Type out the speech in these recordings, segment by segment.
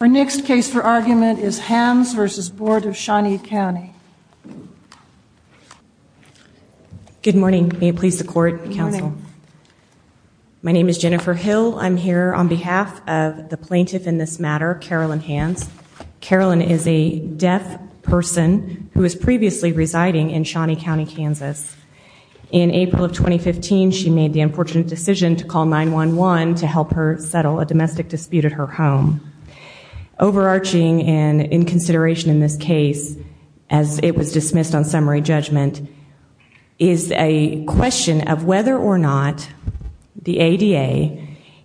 Her next case for argument is Hands v. Bd. of Shawnee Cnty. Good morning. May it please the court, counsel. My name is Jennifer Hill. I'm here on behalf of the plaintiff in this matter, Carolyn Hands. Carolyn is a deaf person who was previously residing in Shawnee County, Kansas. In April of 2015, she made the unfortunate decision to call 911 to help her settle a domestic dispute at her home. Overarching and in consideration in this case, as it was dismissed on summary judgment, is a question of whether or not the ADA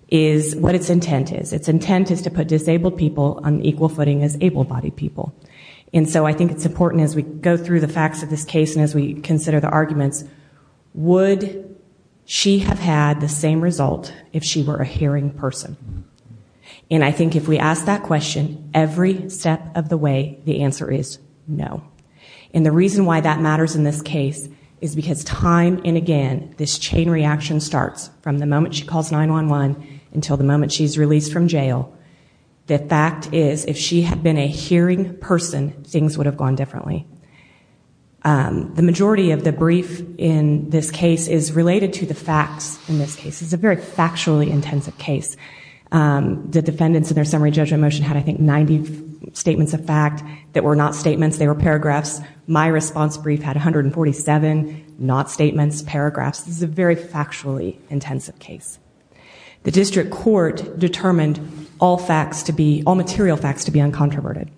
is what its intent is. Its intent is to put disabled people on equal footing as able-bodied people. And so I think it's important as we go through the facts of this case and as we consider the arguments, would she have had the same result if she were a hearing person? And I think if we ask that question, every step of the way, the answer is no. And the reason why that matters in this case is because time and again, this chain reaction starts from the moment she calls 911 until the moment she's released from jail. The fact is, if she had been a hearing person, things would have gone differently. The majority of the brief in this case is related to the facts in this case. It's a very factually intensive case. The defendants in their summary judgment motion had, I think, 90 statements of fact that were not statements. They were paragraphs. My response brief had 147 not statements, paragraphs. This is a very factually intensive case. The district court determined all facts to be, all material facts to be uncontroverted.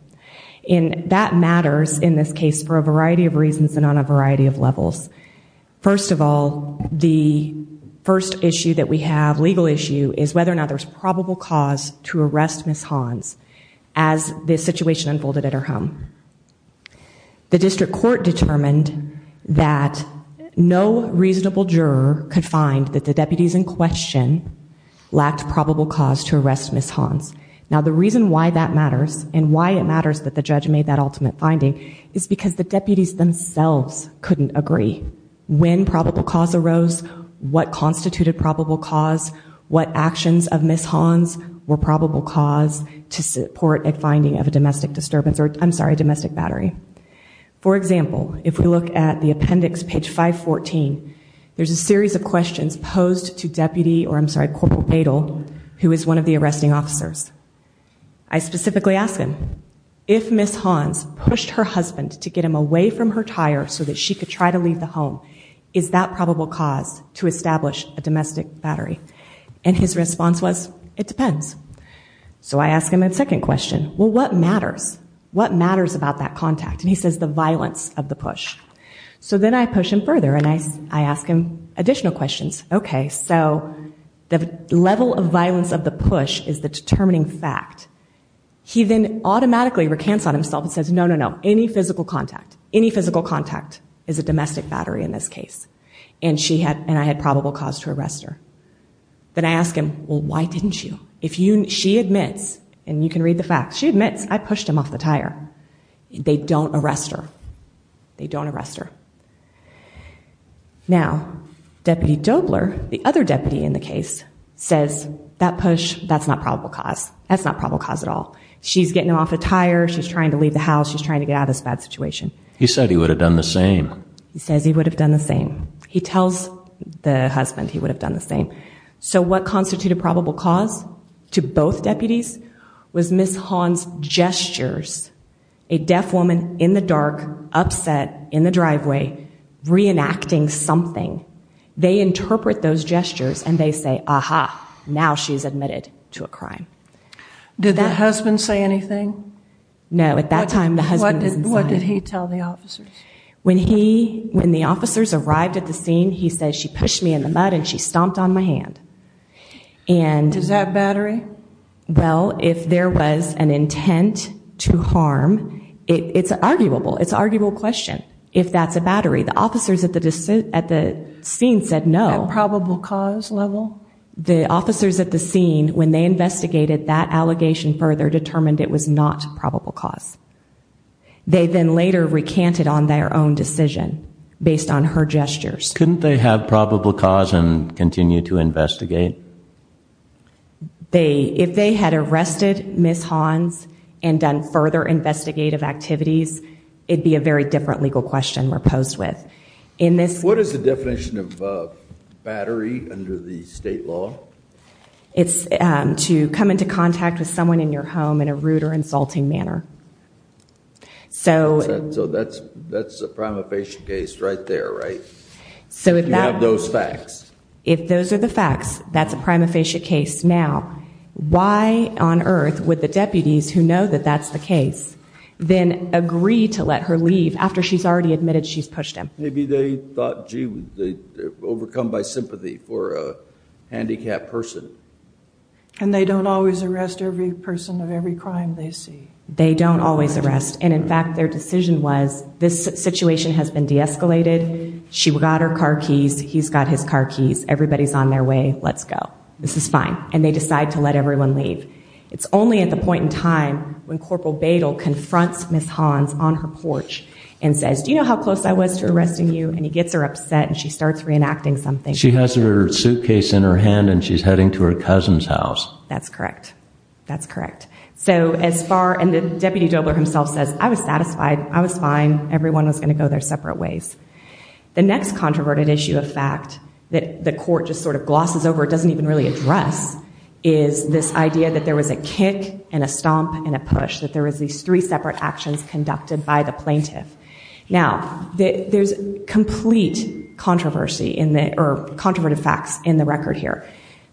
And that matters in this case for a variety of reasons and on a variety of levels. First of all, the first issue that we have, legal issue, is whether or not there's probable cause to arrest Ms. Hawns as this situation unfolded at her home. The district court determined that no reasonable juror could find that the deputies in question lacked probable cause to arrest Ms. Hawns. Now the reason why that matters and why it matters that the judge made that ultimate finding is because the deputies themselves couldn't agree. When probable cause arose, what constituted probable cause, what actions of Ms. Hawns were probable cause to support a finding of a domestic disturbance? I'm sorry, domestic battery. For example, if we look at the appendix, page 514, there's a series of questions posed to Deputy, or I'm sorry, Corporal Badel, who is one of the arresting officers. I specifically asked him, if Ms. Hawns pushed her husband to get him away from her tire so that she could try to leave the home, is that probable cause to establish a domestic battery? And his response was, it depends. So I ask him a second question. Well, what matters? What matters about that contact? And he says, the violence of the push. So then I push him further, and I ask him additional questions. Okay, so the level of violence of the push is the determining fact. He then automatically recants on himself and says, no, no, no, any physical contact, any physical contact is a domestic battery in this case, and I had probable cause to arrest her. Then I ask him, well, why didn't you? She admits, and you can read the facts, she admits, I pushed him off the tire. They don't arrest her. They don't arrest her. Now, Deputy Dobler, the other deputy in the case, says, that push, that's not probable cause. That's not probable cause at all. She's getting him off a tire. She's trying to leave the house. She's trying to get out of this bad situation. He said he would have done the same. He tells the husband he would have done the same. So what constituted probable cause to both deputies was Ms. Hahn's gestures, a deaf woman in the dark, upset, in the driveway, reenacting something. They interpret those gestures, and they say, aha, now she's admitted to a crime. Did the husband say anything? No, at that time, the husband was inside. What did he tell the officers? When he, when the officers arrived at the scene, he said, she pushed me in the mud, and she stomped on my hand, and- Is that battery? Well, if there was an intent to harm, it's arguable. It's an arguable question, if that's a battery. The officers at the scene said no. At probable cause level? The officers at the scene, when they investigated that allegation further, determined it was not probable cause. They then later recanted on their own decision, based on her gestures. Couldn't they have probable cause and continue to investigate? They, if they had arrested Ms. Hahn's and done further investigative activities, it'd be a very different legal question we're posed with. In this- What is the definition of battery under the state law? It's to come into contact with someone in your home in a rude or insulting manner. So- So that's, that's a prima facie case right there, right? So if that- You have those facts. If those are the facts, that's a prima facie case. Now, why on earth would the deputies who know that that's the case, then agree to let her leave after she's already admitted she's pushed him? Maybe they thought, gee, they're overcome by sympathy for a handicapped person. And they don't always arrest every person of every crime they see. They don't always arrest. And, in fact, their decision was, this situation has been de-escalated. She got her car keys. He's got his car keys. Everybody's on their way. Let's go. This is fine. And they decide to let everyone leave. It's only at the point in time when Corporal Badel confronts Ms. Hahn on her porch and says, do you know how close I was to arresting you? And he gets her upset and she starts reenacting something. She has her suitcase in her hand and she's heading to her cousin's house. That's correct. That's correct. And the Deputy Dobler himself says, I was satisfied. I was fine. Everyone was going to go their separate ways. The next controverted issue of fact that the court just sort of glosses over, doesn't even really address, is this idea that there was a kick and a stomp and a push, that there was these three separate actions conducted by the plaintiff. Now, there's complete controversy or controverted facts in the record here.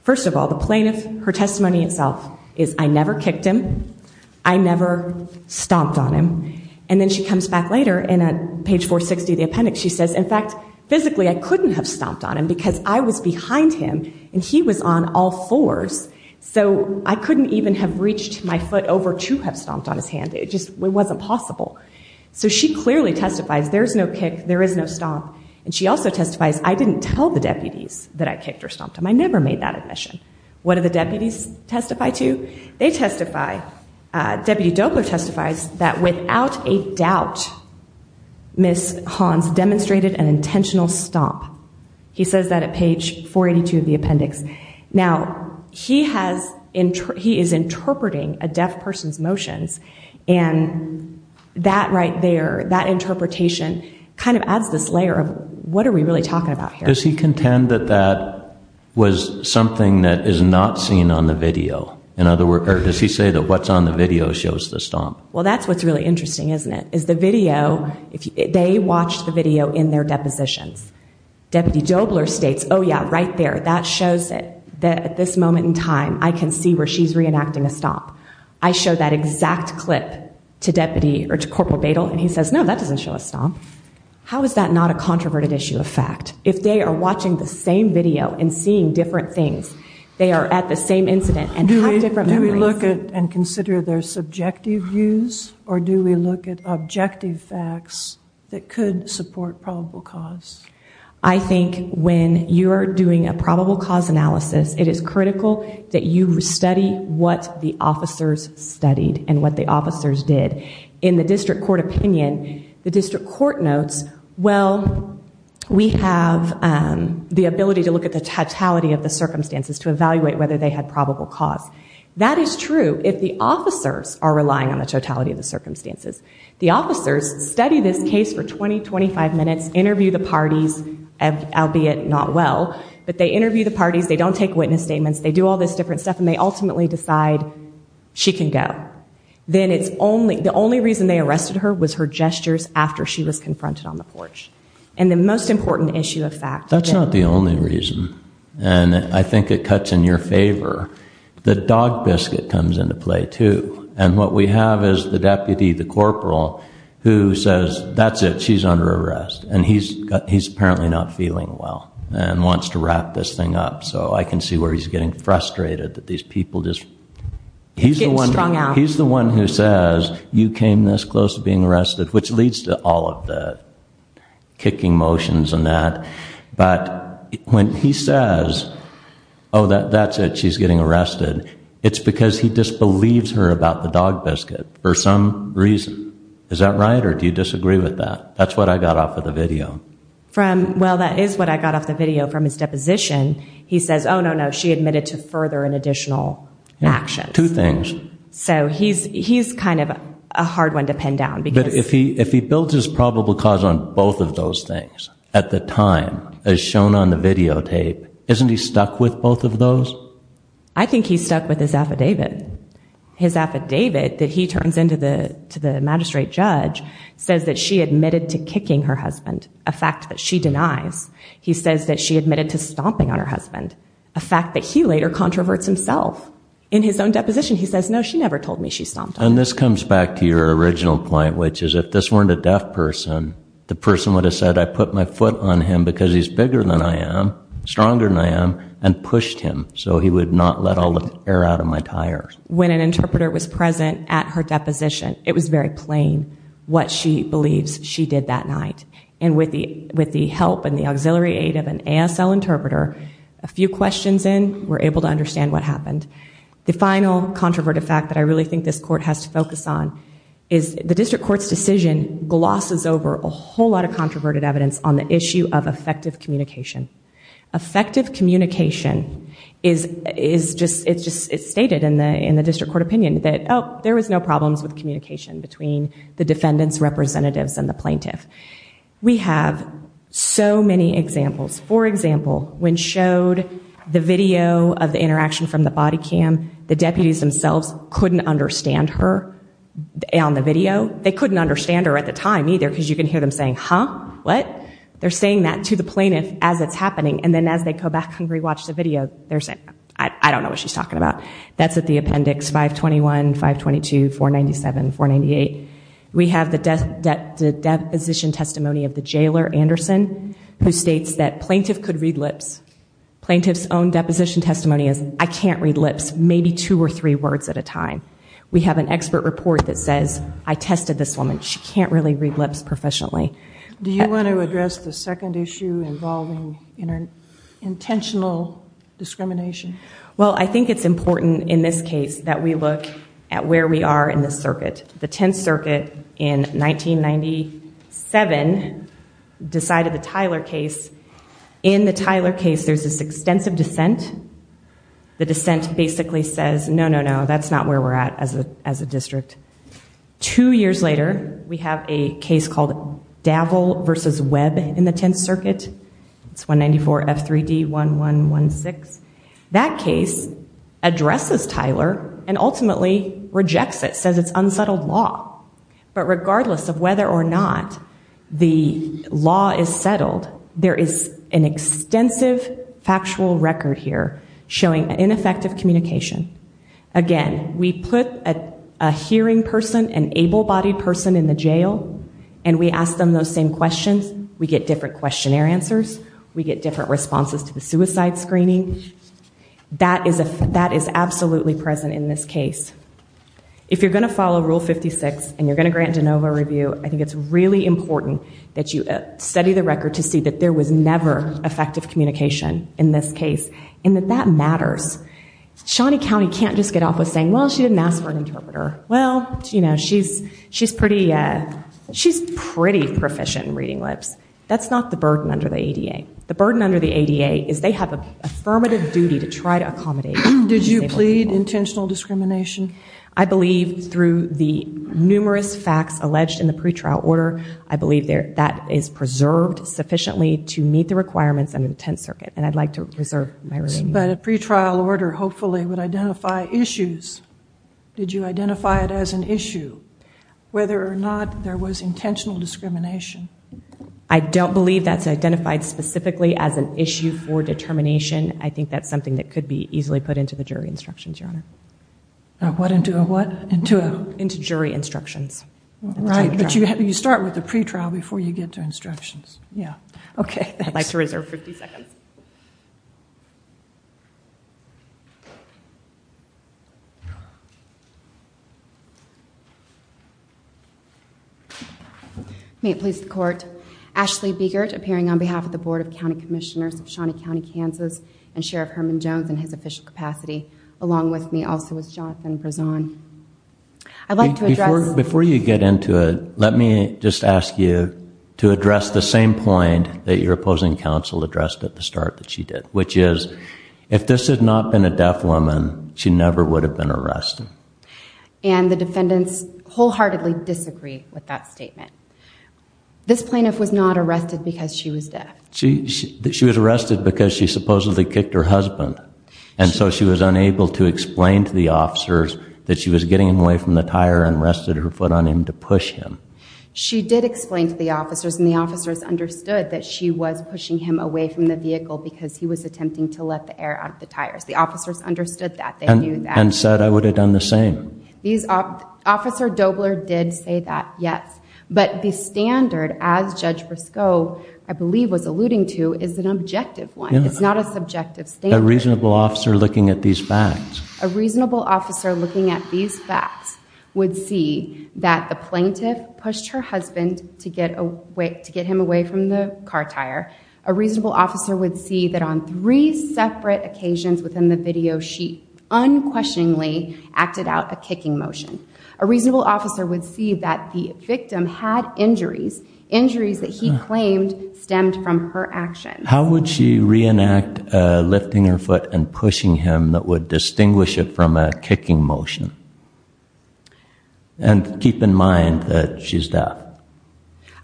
First of all, the plaintiff, her testimony itself is, I never kicked him. I never stomped on him. And then she comes back later and at page 460 of the appendix she says, in fact, physically I couldn't have stomped on him because I was behind him and he was on all fours. So I couldn't even have reached my foot over to have stomped on his hand. It just wasn't possible. So she clearly testifies, there's no kick, there is no stomp. And she also testifies, I didn't tell the deputies that I kicked or stomped him. I never made that admission. What do the deputies testify to? They testify, Deputy Dobler testifies that without a doubt, Ms. Hans demonstrated an intentional stomp. He says that at page 482 of the appendix. Now, he is interpreting a deaf person's motions and that right there, that interpretation, kind of adds this layer of what are we really talking about here? Does he contend that that was something that is not seen on the video? In other words, does he say that what's on the video shows the stomp? Well, that's what's really interesting, isn't it? Is the video, they watched the video in their depositions. Deputy Dobler states, oh, yeah, right there, that shows that at this moment in time, I can see where she's reenacting a stomp. I show that exact clip to Deputy, or to Corporal Badel and he says, no, that doesn't show a stomp. How is that not a controverted issue of fact? If they are watching the same video and seeing different things, they are at the same incident and have different memories. Do we look at and consider their subjective views or do we look at objective facts that could support probable cause? I think when you are doing a probable cause analysis, it is critical that you study what the officers studied and what the officers did. In the district court opinion, the district court notes, well, we have the ability to look at the totality of the circumstances to evaluate whether they had probable cause. That is true if the officers are relying on the totality of the circumstances. The officers study this case for 20, 25 minutes, interview the parties, albeit not well, but they interview the parties, they don't take witness statements, they do all this different stuff and they ultimately decide she can go. The only reason they arrested her was her gestures after she was confronted on the porch. The most important issue of fact. That's not the only reason. I think it cuts in your favor. The dog biscuit comes into play too. What we have is the deputy, the corporal, who says, that's it, she's under arrest. He's apparently not feeling well and wants to wrap this thing up. I can see where he's getting frustrated. He's the one who says, you came this close to being arrested, which leads to all of the kicking motions and that. But when he says, oh, that's it, she's getting arrested, it's because he disbelieves her about the dog biscuit for some reason. Is that right or do you disagree with that? That's what I got off of the video. Well, that is what I got off the video from his deposition. He says, oh, no, no, she admitted to further and additional actions. Two things. So he's kind of a hard one to pin down. But if he builds his probable cause on both of those things at the time, as shown on the videotape, isn't he stuck with both of those? I think he's stuck with his affidavit. His affidavit that he turns in to the magistrate judge says that she admitted to kicking her husband, a fact that she denies. He says that she admitted to stomping on her husband, a fact that he later controverts himself in his own deposition. He says, no, she never told me she stomped on him. And this comes back to your original point, which is if this weren't a deaf person, the person would have said, I put my foot on him because he's bigger than I am, stronger than I am, and pushed him so he would not let all the air out of my tire. When an interpreter was present at her deposition, it was very plain what she believes she did that night. And with the help and the auxiliary aid of an ASL interpreter, a few questions in, we're able to understand what happened. The final controverted fact that I really think this court has to focus on is the district court's decision glosses over a whole lot of controverted evidence on the issue of effective communication. Effective communication is stated in the district court opinion that there was no problems with communication between the defendant's representatives and the plaintiff. We have so many examples. For example, when showed the video of the interaction from the body cam, the deputies themselves couldn't understand her on the video. They couldn't understand her at the time either because you can hear them saying, huh, what? They're saying that to the plaintiff as it's happening. And then as they go back and rewatch the video, they're saying, I don't know what she's talking about. That's at the appendix 521, 522, 497, 498. We have the deposition testimony of the jailer, Anderson, who states that plaintiff could read lips. Plaintiff's own deposition testimony is, I can't read lips, maybe two or three words at a time. We have an expert report that says, I tested this woman. She can't really read lips professionally. Do you want to address the second issue involving intentional discrimination? Well, I think it's important in this case that we look at where we are in this circuit. The Tenth Circuit in 1997 decided the Tyler case. In the Tyler case, there's this extensive dissent. The dissent basically says, no, no, no, that's not where we're at as a district. Two years later, we have a case called Davel v. Webb in the Tenth Circuit. It's 194F3D1116. That case addresses Tyler and ultimately rejects it, says it's unsettled law. But regardless of whether or not the law is settled, there is an extensive factual record here showing ineffective communication. Again, we put a hearing person, an able-bodied person in the jail, and we ask them those same questions. We get different questionnaire answers. We get different responses to the suicide screening. That is absolutely present in this case. If you're going to follow Rule 56 and you're going to grant de novo review, I think it's really important that you study the record to see that there was never effective communication in this case and that that matters. Shawnee County can't just get off with saying, well, she didn't ask for an interpreter. Well, you know, she's pretty proficient in reading lips. That's not the burden under the ADA. The burden under the ADA is they have an affirmative duty to try to accommodate disabled people. Did you plead intentional discrimination? I believe through the numerous facts alleged in the pretrial order, I believe that is preserved sufficiently to meet the requirements under the Tenth Circuit, and I'd like to reserve my remaining time. But a pretrial order hopefully would identify issues. Did you identify it as an issue, whether or not there was intentional discrimination? I don't believe that's identified specifically as an issue for determination. I think that's something that could be easily put into the jury instructions, Your Honor. What into what? Into jury instructions. Right, but you start with the pretrial before you get to instructions. Yeah. Okay. I'd like to reserve 50 seconds. May it please the Court. Ashley Begert, appearing on behalf of the Board of County Commissioners of Shawnee County, Kansas, and Sheriff Herman Jones in his official capacity, along with me also is Jonathan Brezon. I'd like to address... Before you get into it, let me just ask you to address the same point that your opposing counsel addressed at the start that she did, which is if this had not been a deaf woman, she never would have been arrested. And the defendants wholeheartedly disagree with that statement. This plaintiff was not arrested because she was deaf. She was arrested because she supposedly kicked her husband. And so she was unable to explain to the officers that she was getting away from the tire and rested her foot on him to push him. She did explain to the officers, and the officers understood that she was pushing him away from the vehicle because he was attempting to let the air out of the tires. The officers understood that. They knew that. And said, I would have done the same. Officer Dobler did say that, yes. But the standard, as Judge Briscoe, I believe, was alluding to is an objective one. It's not a subjective standard. A reasonable officer looking at these facts. A reasonable officer looking at these facts would see that the plaintiff pushed her husband to get him away from the car tire. A reasonable officer would see that on three separate occasions within the video, she unquestioningly acted out a kicking motion. A reasonable officer would see that the victim had injuries, injuries that he claimed stemmed from her actions. How would she reenact lifting her foot and pushing him that would distinguish it from a kicking motion? And keep in mind that she's deaf.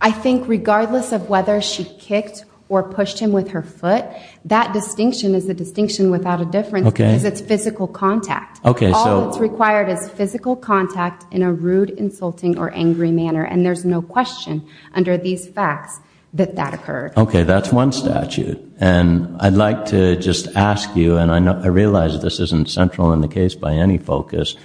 I think regardless of whether she kicked or pushed him with her foot, that distinction is a distinction without a difference because it's physical contact. All that's required is physical contact in a rude, insulting, or angry manner. And there's no question under these facts that that occurred. Okay, that's one statute. And I'd like to just ask you, and I realize this isn't central in the case by any focus,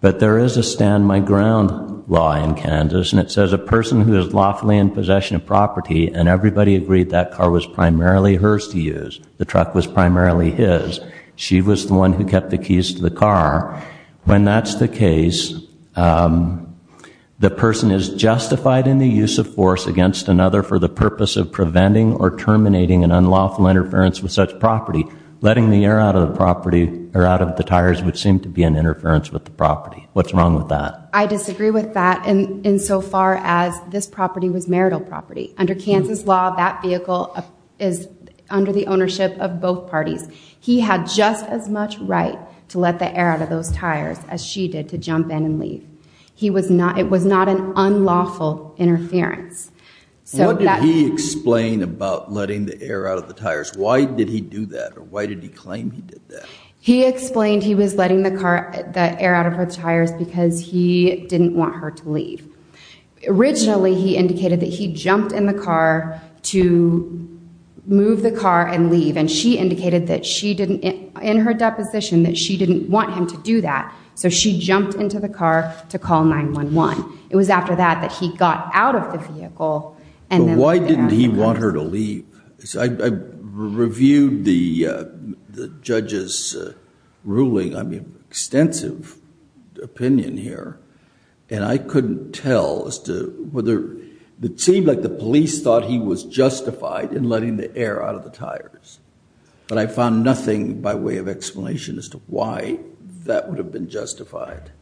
but there is a stand-my-ground law in Kansas and it says a person who is lawfully in possession of property and everybody agreed that car was primarily hers to use, the truck was primarily his, she was the one who kept the keys to the car, when that's the case, the person is justified in the use of force against another for the purpose of preventing or terminating an unlawful interference with such property. Letting the air out of the tires would seem to be an interference with the property. What's wrong with that? I disagree with that insofar as this property was marital property. Under Kansas law, that vehicle is under the ownership of both parties. He had just as much right to let the air out of those tires as she did to jump in and leave. It was not an unlawful interference. What did he explain about letting the air out of the tires? Why did he do that or why did he claim he did that? He explained he was letting the air out of her tires because he didn't want her to leave. Originally, he indicated that he jumped in the car to move the car and leave and she indicated in her deposition that she didn't want him to do that, so she jumped into the car to call 911. It was after that that he got out of the vehicle. But why didn't he want her to leave? I reviewed the judge's ruling, I mean, extensive opinion here, and I couldn't tell as to whether... It seemed like the police thought he was justified in letting the air out of the tires, but I found nothing by way of explanation as to why that would have been justified.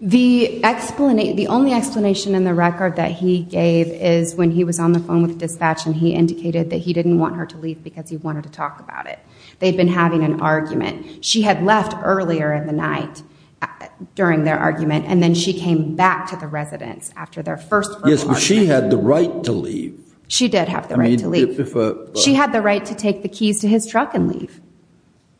The only explanation in the record that he gave is when he was on the phone with dispatch and he indicated that he didn't want her to leave because he wanted to talk about it. They'd been having an argument. She had left earlier in the night during their argument and then she came back to the residence after their first conversation. Yes, but she had the right to leave. She did have the right to leave. She had the right to take the keys to his truck and leave.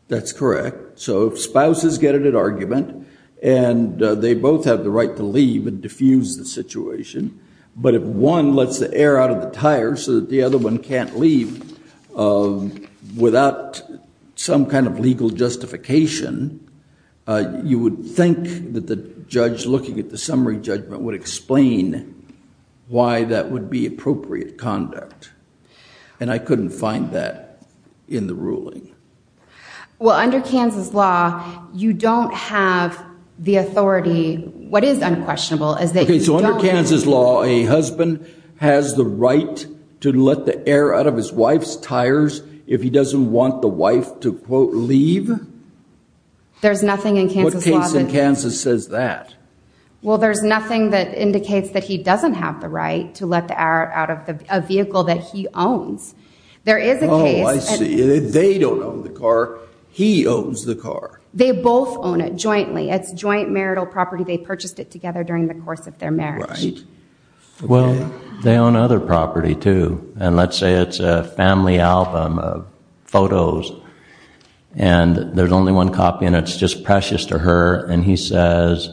That's correct. So if spouses get into an argument and they both have the right to leave and diffuse the situation, but if one lets the air out of the tires so that the other one can't leave without some kind of legal justification, you would think that the judge, looking at the summary judgment, would explain why that would be appropriate conduct. And I couldn't find that in the ruling. Well, under Kansas law, you don't have the authority. What is unquestionable is that you don't... Okay, so under Kansas law, a husband has the right to let the air out of his wife's tires if he doesn't want the wife to, quote, leave? There's nothing in Kansas law that... What case in Kansas says that? Well, there's nothing that indicates that he doesn't have the right to let the air out of a vehicle that he owns. There is a case... Oh, I see. They don't own the car. He owns the car. They both own it jointly. It's joint marital property. They purchased it together during the course of their marriage. Right. Well, they own other property, too. And let's say it's a family album of photos, and there's only one copy, and it's just precious to her, and he says,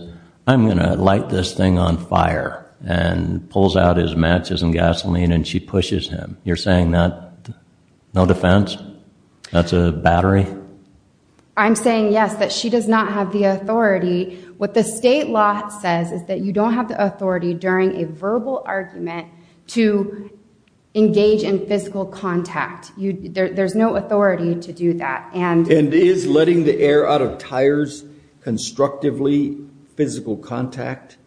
I'm going to light this thing on fire, and pulls out his matches and gasoline, and she pushes him. You're saying that, no defense, that's a battery? I'm saying, yes, that she does not have the authority. What the state law says is that you don't have the authority during a verbal argument to engage in physical contact. There's no authority to do that. And is letting the air out of tires constructively physical contact?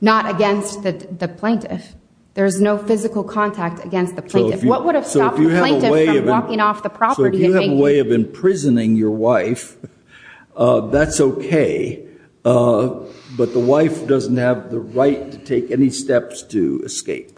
Not against the plaintiff. There's no physical contact against the plaintiff. What would have stopped the plaintiff from walking off the property? So if you have a way of imprisoning your wife, that's okay, but the wife doesn't have the right to take any steps to escape.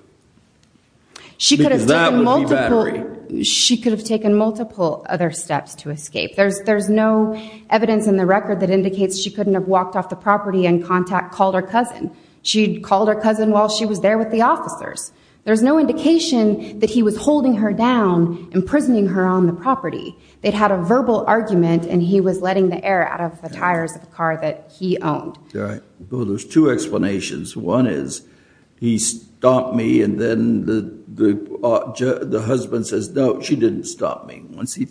Because that would be battery. She could have taken multiple other steps to escape. There's no evidence in the record that indicates she couldn't have walked off the property and called her cousin. She called her cousin while she was there with the officers. There's no indication that he was holding her down, imprisoning her on the property. They'd had a verbal argument, and he was letting the air out of the tires of the car that he owned. Well, there's two explanations. One is, he stomped me, and then the husband says, no, she didn't stomp me. Once he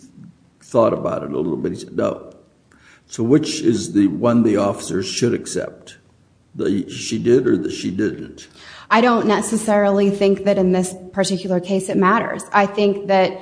thought about it a little bit, he said, no. So which is the one the officer should accept? She did or she didn't? I don't necessarily think that in this particular case it matters. I think that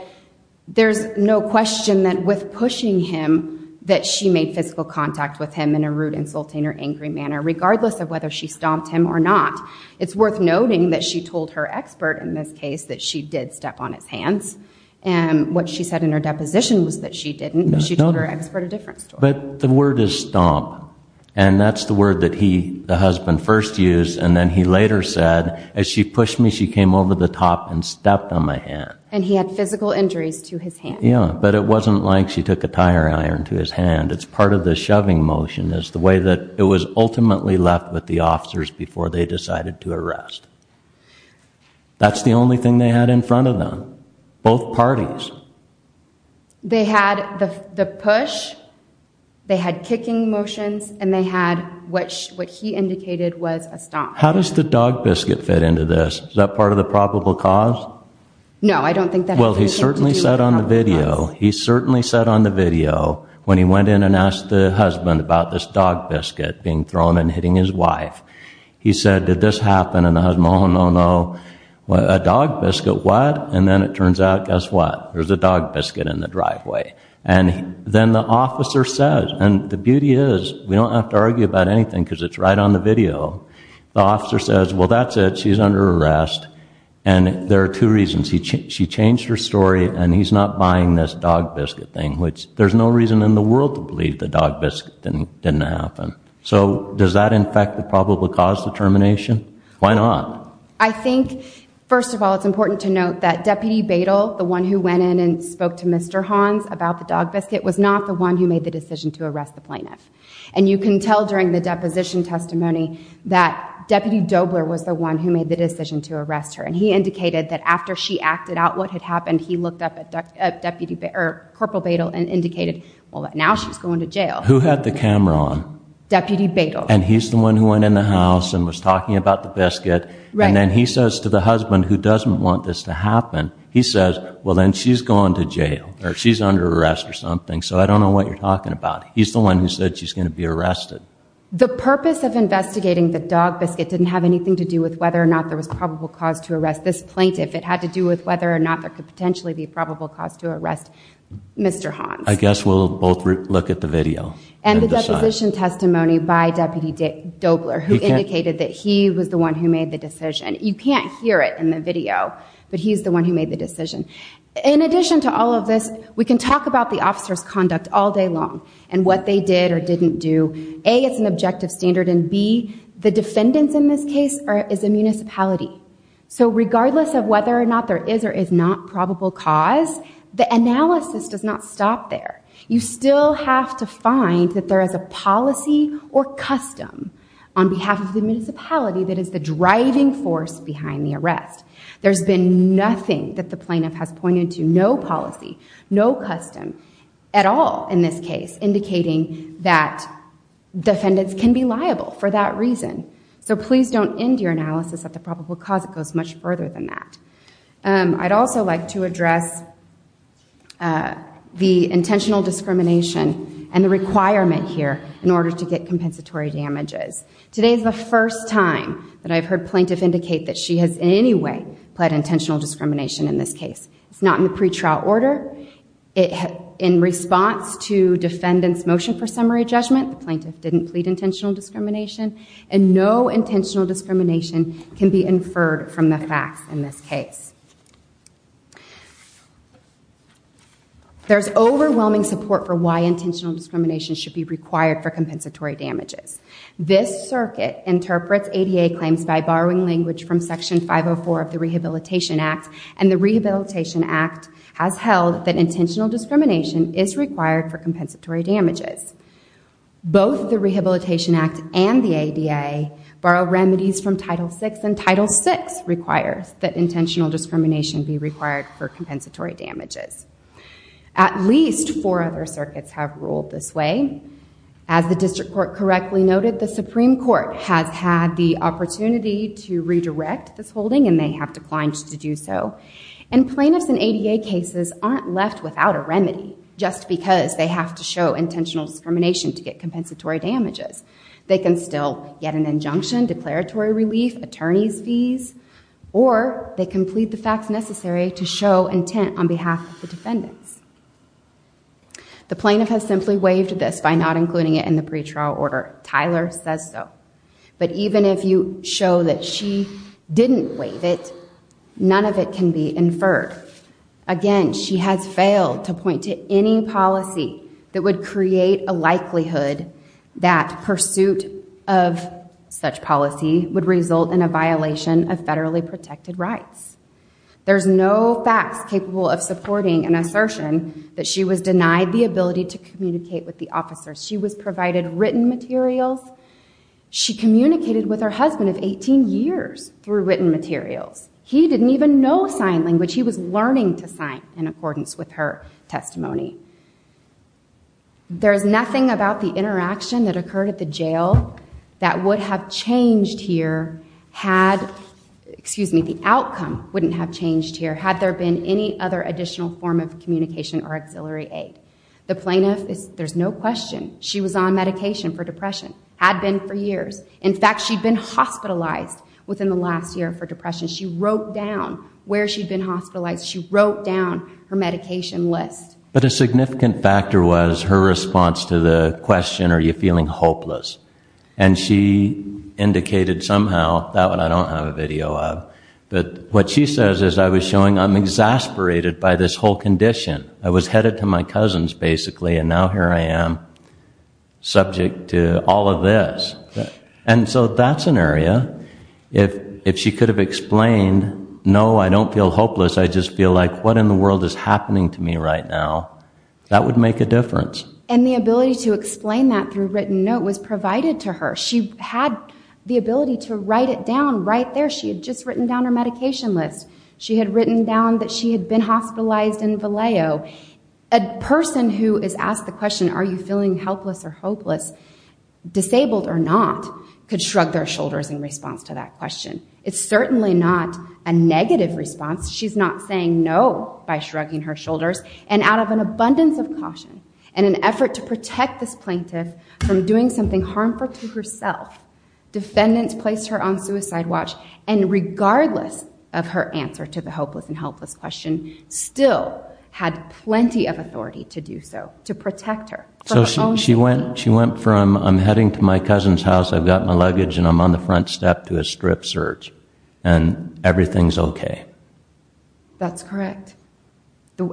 there's no question that with pushing him that she made physical contact with him in a rude, insulting, or angry manner, regardless of whether she stomped him or not. It's worth noting that she told her expert in this case that she did step on his hands, and what she said in her deposition was that she didn't. She told her expert a different story. But the word is stomp, and that's the word that the husband first used, and then he later said, as she pushed me, she came over the top and stepped on my hand. And he had physical injuries to his hand. Yeah, but it wasn't like she took a tire iron to his hand. It's part of the shoving motion. It's the way that it was ultimately left with the officers before they decided to arrest. That's the only thing they had in front of them, both parties. They had the push, they had kicking motions, and they had what he indicated was a stomp. How does the dog biscuit fit into this? Is that part of the probable cause? No, I don't think that has anything to do with probable cause. Well, he certainly said on the video when he went in and asked the husband about this dog biscuit being thrown and hitting his wife, he said, did this happen? And the husband, oh, no, no, a dog biscuit, what? And then it turns out, guess what? There's a dog biscuit in the driveway. And then the officer says, and the beauty is, we don't have to argue about anything because it's right on the video. The officer says, well, that's it, she's under arrest. And there are two reasons. She changed her story, and he's not buying this dog biscuit thing, which there's no reason in the world to believe the dog biscuit didn't happen. So does that infect the probable cause determination? Why not? I think, first of all, it's important to note that Deputy Badle, the one who went in and spoke to Mr. Hans about the dog biscuit, was not the one who made the decision to arrest the plaintiff. And you can tell during the deposition testimony that Deputy Dobler was the one who made the decision to arrest her. And he indicated that after she acted out what had happened, he looked up at Corporal Badle and indicated, well, now she's going to jail. Who had the camera on? Deputy Badle. And he's the one who went in the house and was talking about the biscuit. And then he says to the husband, who doesn't want this to happen, he says, well, then she's going to jail, or she's under arrest or something. So I don't know what you're talking about. He's the one who said she's going to be arrested. The purpose of investigating the dog biscuit didn't have anything to do with whether or not there was probable cause to arrest this plaintiff. It had to do with whether or not there could potentially be probable cause to arrest Mr. Hans. I guess we'll both look at the video. And the deposition testimony by Deputy Dobler, who indicated that he was the one who made the decision. You can't hear it in the video, but he's the one who made the decision. In addition to all of this, we can talk about the officer's conduct all day long and what they did or didn't do. A, it's an objective standard. And B, the defendants in this case is a municipality. So regardless of whether or not there is or is not probable cause, the analysis does not stop there. You still have to find that there is a policy or custom on behalf of the municipality that is the driving force behind the arrest. There's been nothing that the plaintiff has pointed to, no policy, no custom at all in this case, indicating that defendants can be liable for that reason. So please don't end your analysis at the probable cause. It goes much further than that. I'd also like to address the intentional discrimination and the requirement here in order to get compensatory damages. Today is the first time that I've heard plaintiff indicate that she has in any way pled intentional discrimination in this case. It's not in the pretrial order. In response to defendant's motion for summary judgment, the plaintiff didn't plead intentional discrimination. And no intentional discrimination can be inferred from the facts in this case. There's overwhelming support for why intentional discrimination should be required for compensatory damages. This circuit interprets ADA claims by borrowing language from Section 504 of the Rehabilitation Act. And the Rehabilitation Act has held that intentional discrimination is required for compensatory damages. Both the Rehabilitation Act and the ADA borrow remedies from Title VI, and Title VI requires that intentional discrimination be required for compensatory damages. At least four other circuits have ruled this way. As the District Court correctly noted, the Supreme Court has had the opportunity to redirect this holding, and they have declined to do so. And plaintiffs in ADA cases aren't left without a remedy just because they have to show intentional discrimination to get compensatory damages. They can still get an injunction, declaratory relief, attorney's fees, or they can plead the facts necessary to show intent on behalf of the defendants. The plaintiff has simply waived this by not including it in the pretrial order. Tyler says so. But even if you show that she didn't waive it, none of it can be inferred. Again, she has failed to point to any policy that would create a likelihood that pursuit of such policy would result in a violation of federally protected rights. There's no facts capable of supporting an assertion that she was denied the ability to communicate with the officers. She was provided written materials. She communicated with her husband of 18 years through written materials. He didn't even know sign language. He was learning to sign in accordance with her testimony. There's nothing about the interaction that occurred at the jail that would have changed here had, excuse me, the outcome wouldn't have changed here had there been any other additional form of communication or auxiliary aid. The plaintiff, there's no question, she was on medication for depression, had been for years. In fact, she'd been hospitalized within the last year for depression. She wrote down where she'd been hospitalized. She wrote down her medication list. But a significant factor was her response to the question, are you feeling hopeless? And she indicated somehow, that one I don't have a video of, but what she says is I was showing I'm exasperated by this whole condition. I was headed to my cousins, basically, and now here I am, subject to all of this. And so that's an area, if she could have explained, no, I don't feel hopeless, I just feel like what in the world is happening to me right now, that would make a difference. And the ability to explain that through written note was provided to her. She had the ability to write it down right there. She had just written down her medication list. She had written down that she had been hospitalized in Vallejo. A person who is asked the question, are you feeling helpless or hopeless, disabled or not, could shrug their shoulders in response to that question. It's certainly not a negative response. She's not saying no by shrugging her shoulders. And out of an abundance of caution and an effort to protect this plaintiff from doing something harmful to herself, defendants placed her on suicide watch, and regardless of her answer to the hopeless and helpless question, still had plenty of authority to do so, to protect her. So she went from, I'm heading to my cousin's house, I've got my luggage and I'm on the front step to a strip search, and everything's okay. That's correct.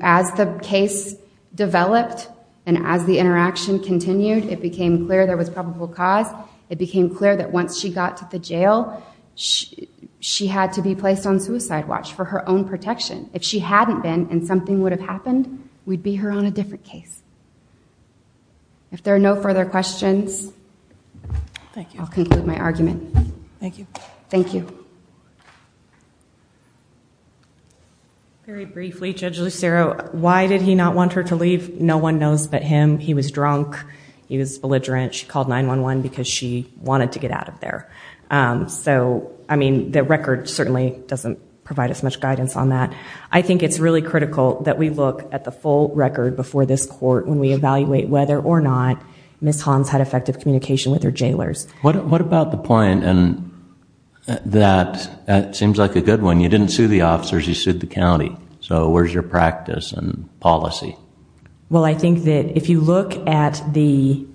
As the case developed and as the interaction continued, it became clear there was probable cause. It became clear that once she got to the jail, she had to be placed on suicide watch for her own protection. If she hadn't been and something would have happened, we'd be her on a different case. If there are no further questions, I'll conclude my argument. Thank you. Thank you. Very briefly, Judge Lucero, why did he not want her to leave? No one knows but him. He was drunk. She called 911 because she wanted to get out of there. The record certainly doesn't provide as much guidance on that. I think it's really critical that we look at the full record before this court when we evaluate whether or not Ms. Hans had effective communication with her jailers. What about the point, and that seems like a good one, you didn't sue the officers, you sued the county. So where's your practice and policy? Well, I think that if you look at the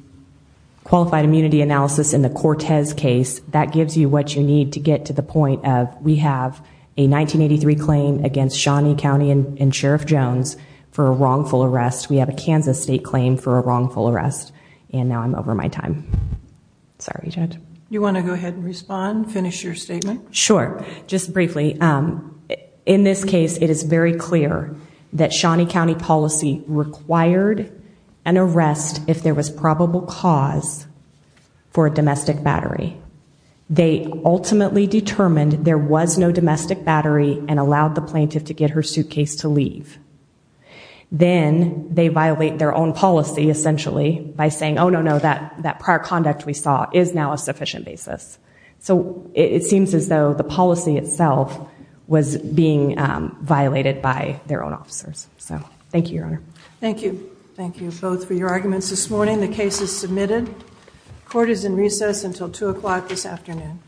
qualified immunity analysis in the Cortez case, that gives you what you need to get to the point of we have a 1983 claim against Shawnee County and Sheriff Jones for a wrongful arrest. We have a Kansas State claim for a wrongful arrest. And now I'm over my time. Sorry, Judge. You want to go ahead and respond, finish your statement? Sure. Just briefly, in this case it is very clear that Shawnee County policy required an arrest if there was probable cause for a domestic battery. They ultimately determined there was no domestic battery and allowed the plaintiff to get her suitcase to leave. Then they violate their own policy, essentially, by saying, oh, no, no, that prior conduct we saw is now a sufficient basis. So it seems as though the policy itself was being violated by their own officers. So thank you, Your Honor. Thank you. Thank you both for your arguments this morning. The case is submitted. Court is in recess until 2 o'clock this afternoon.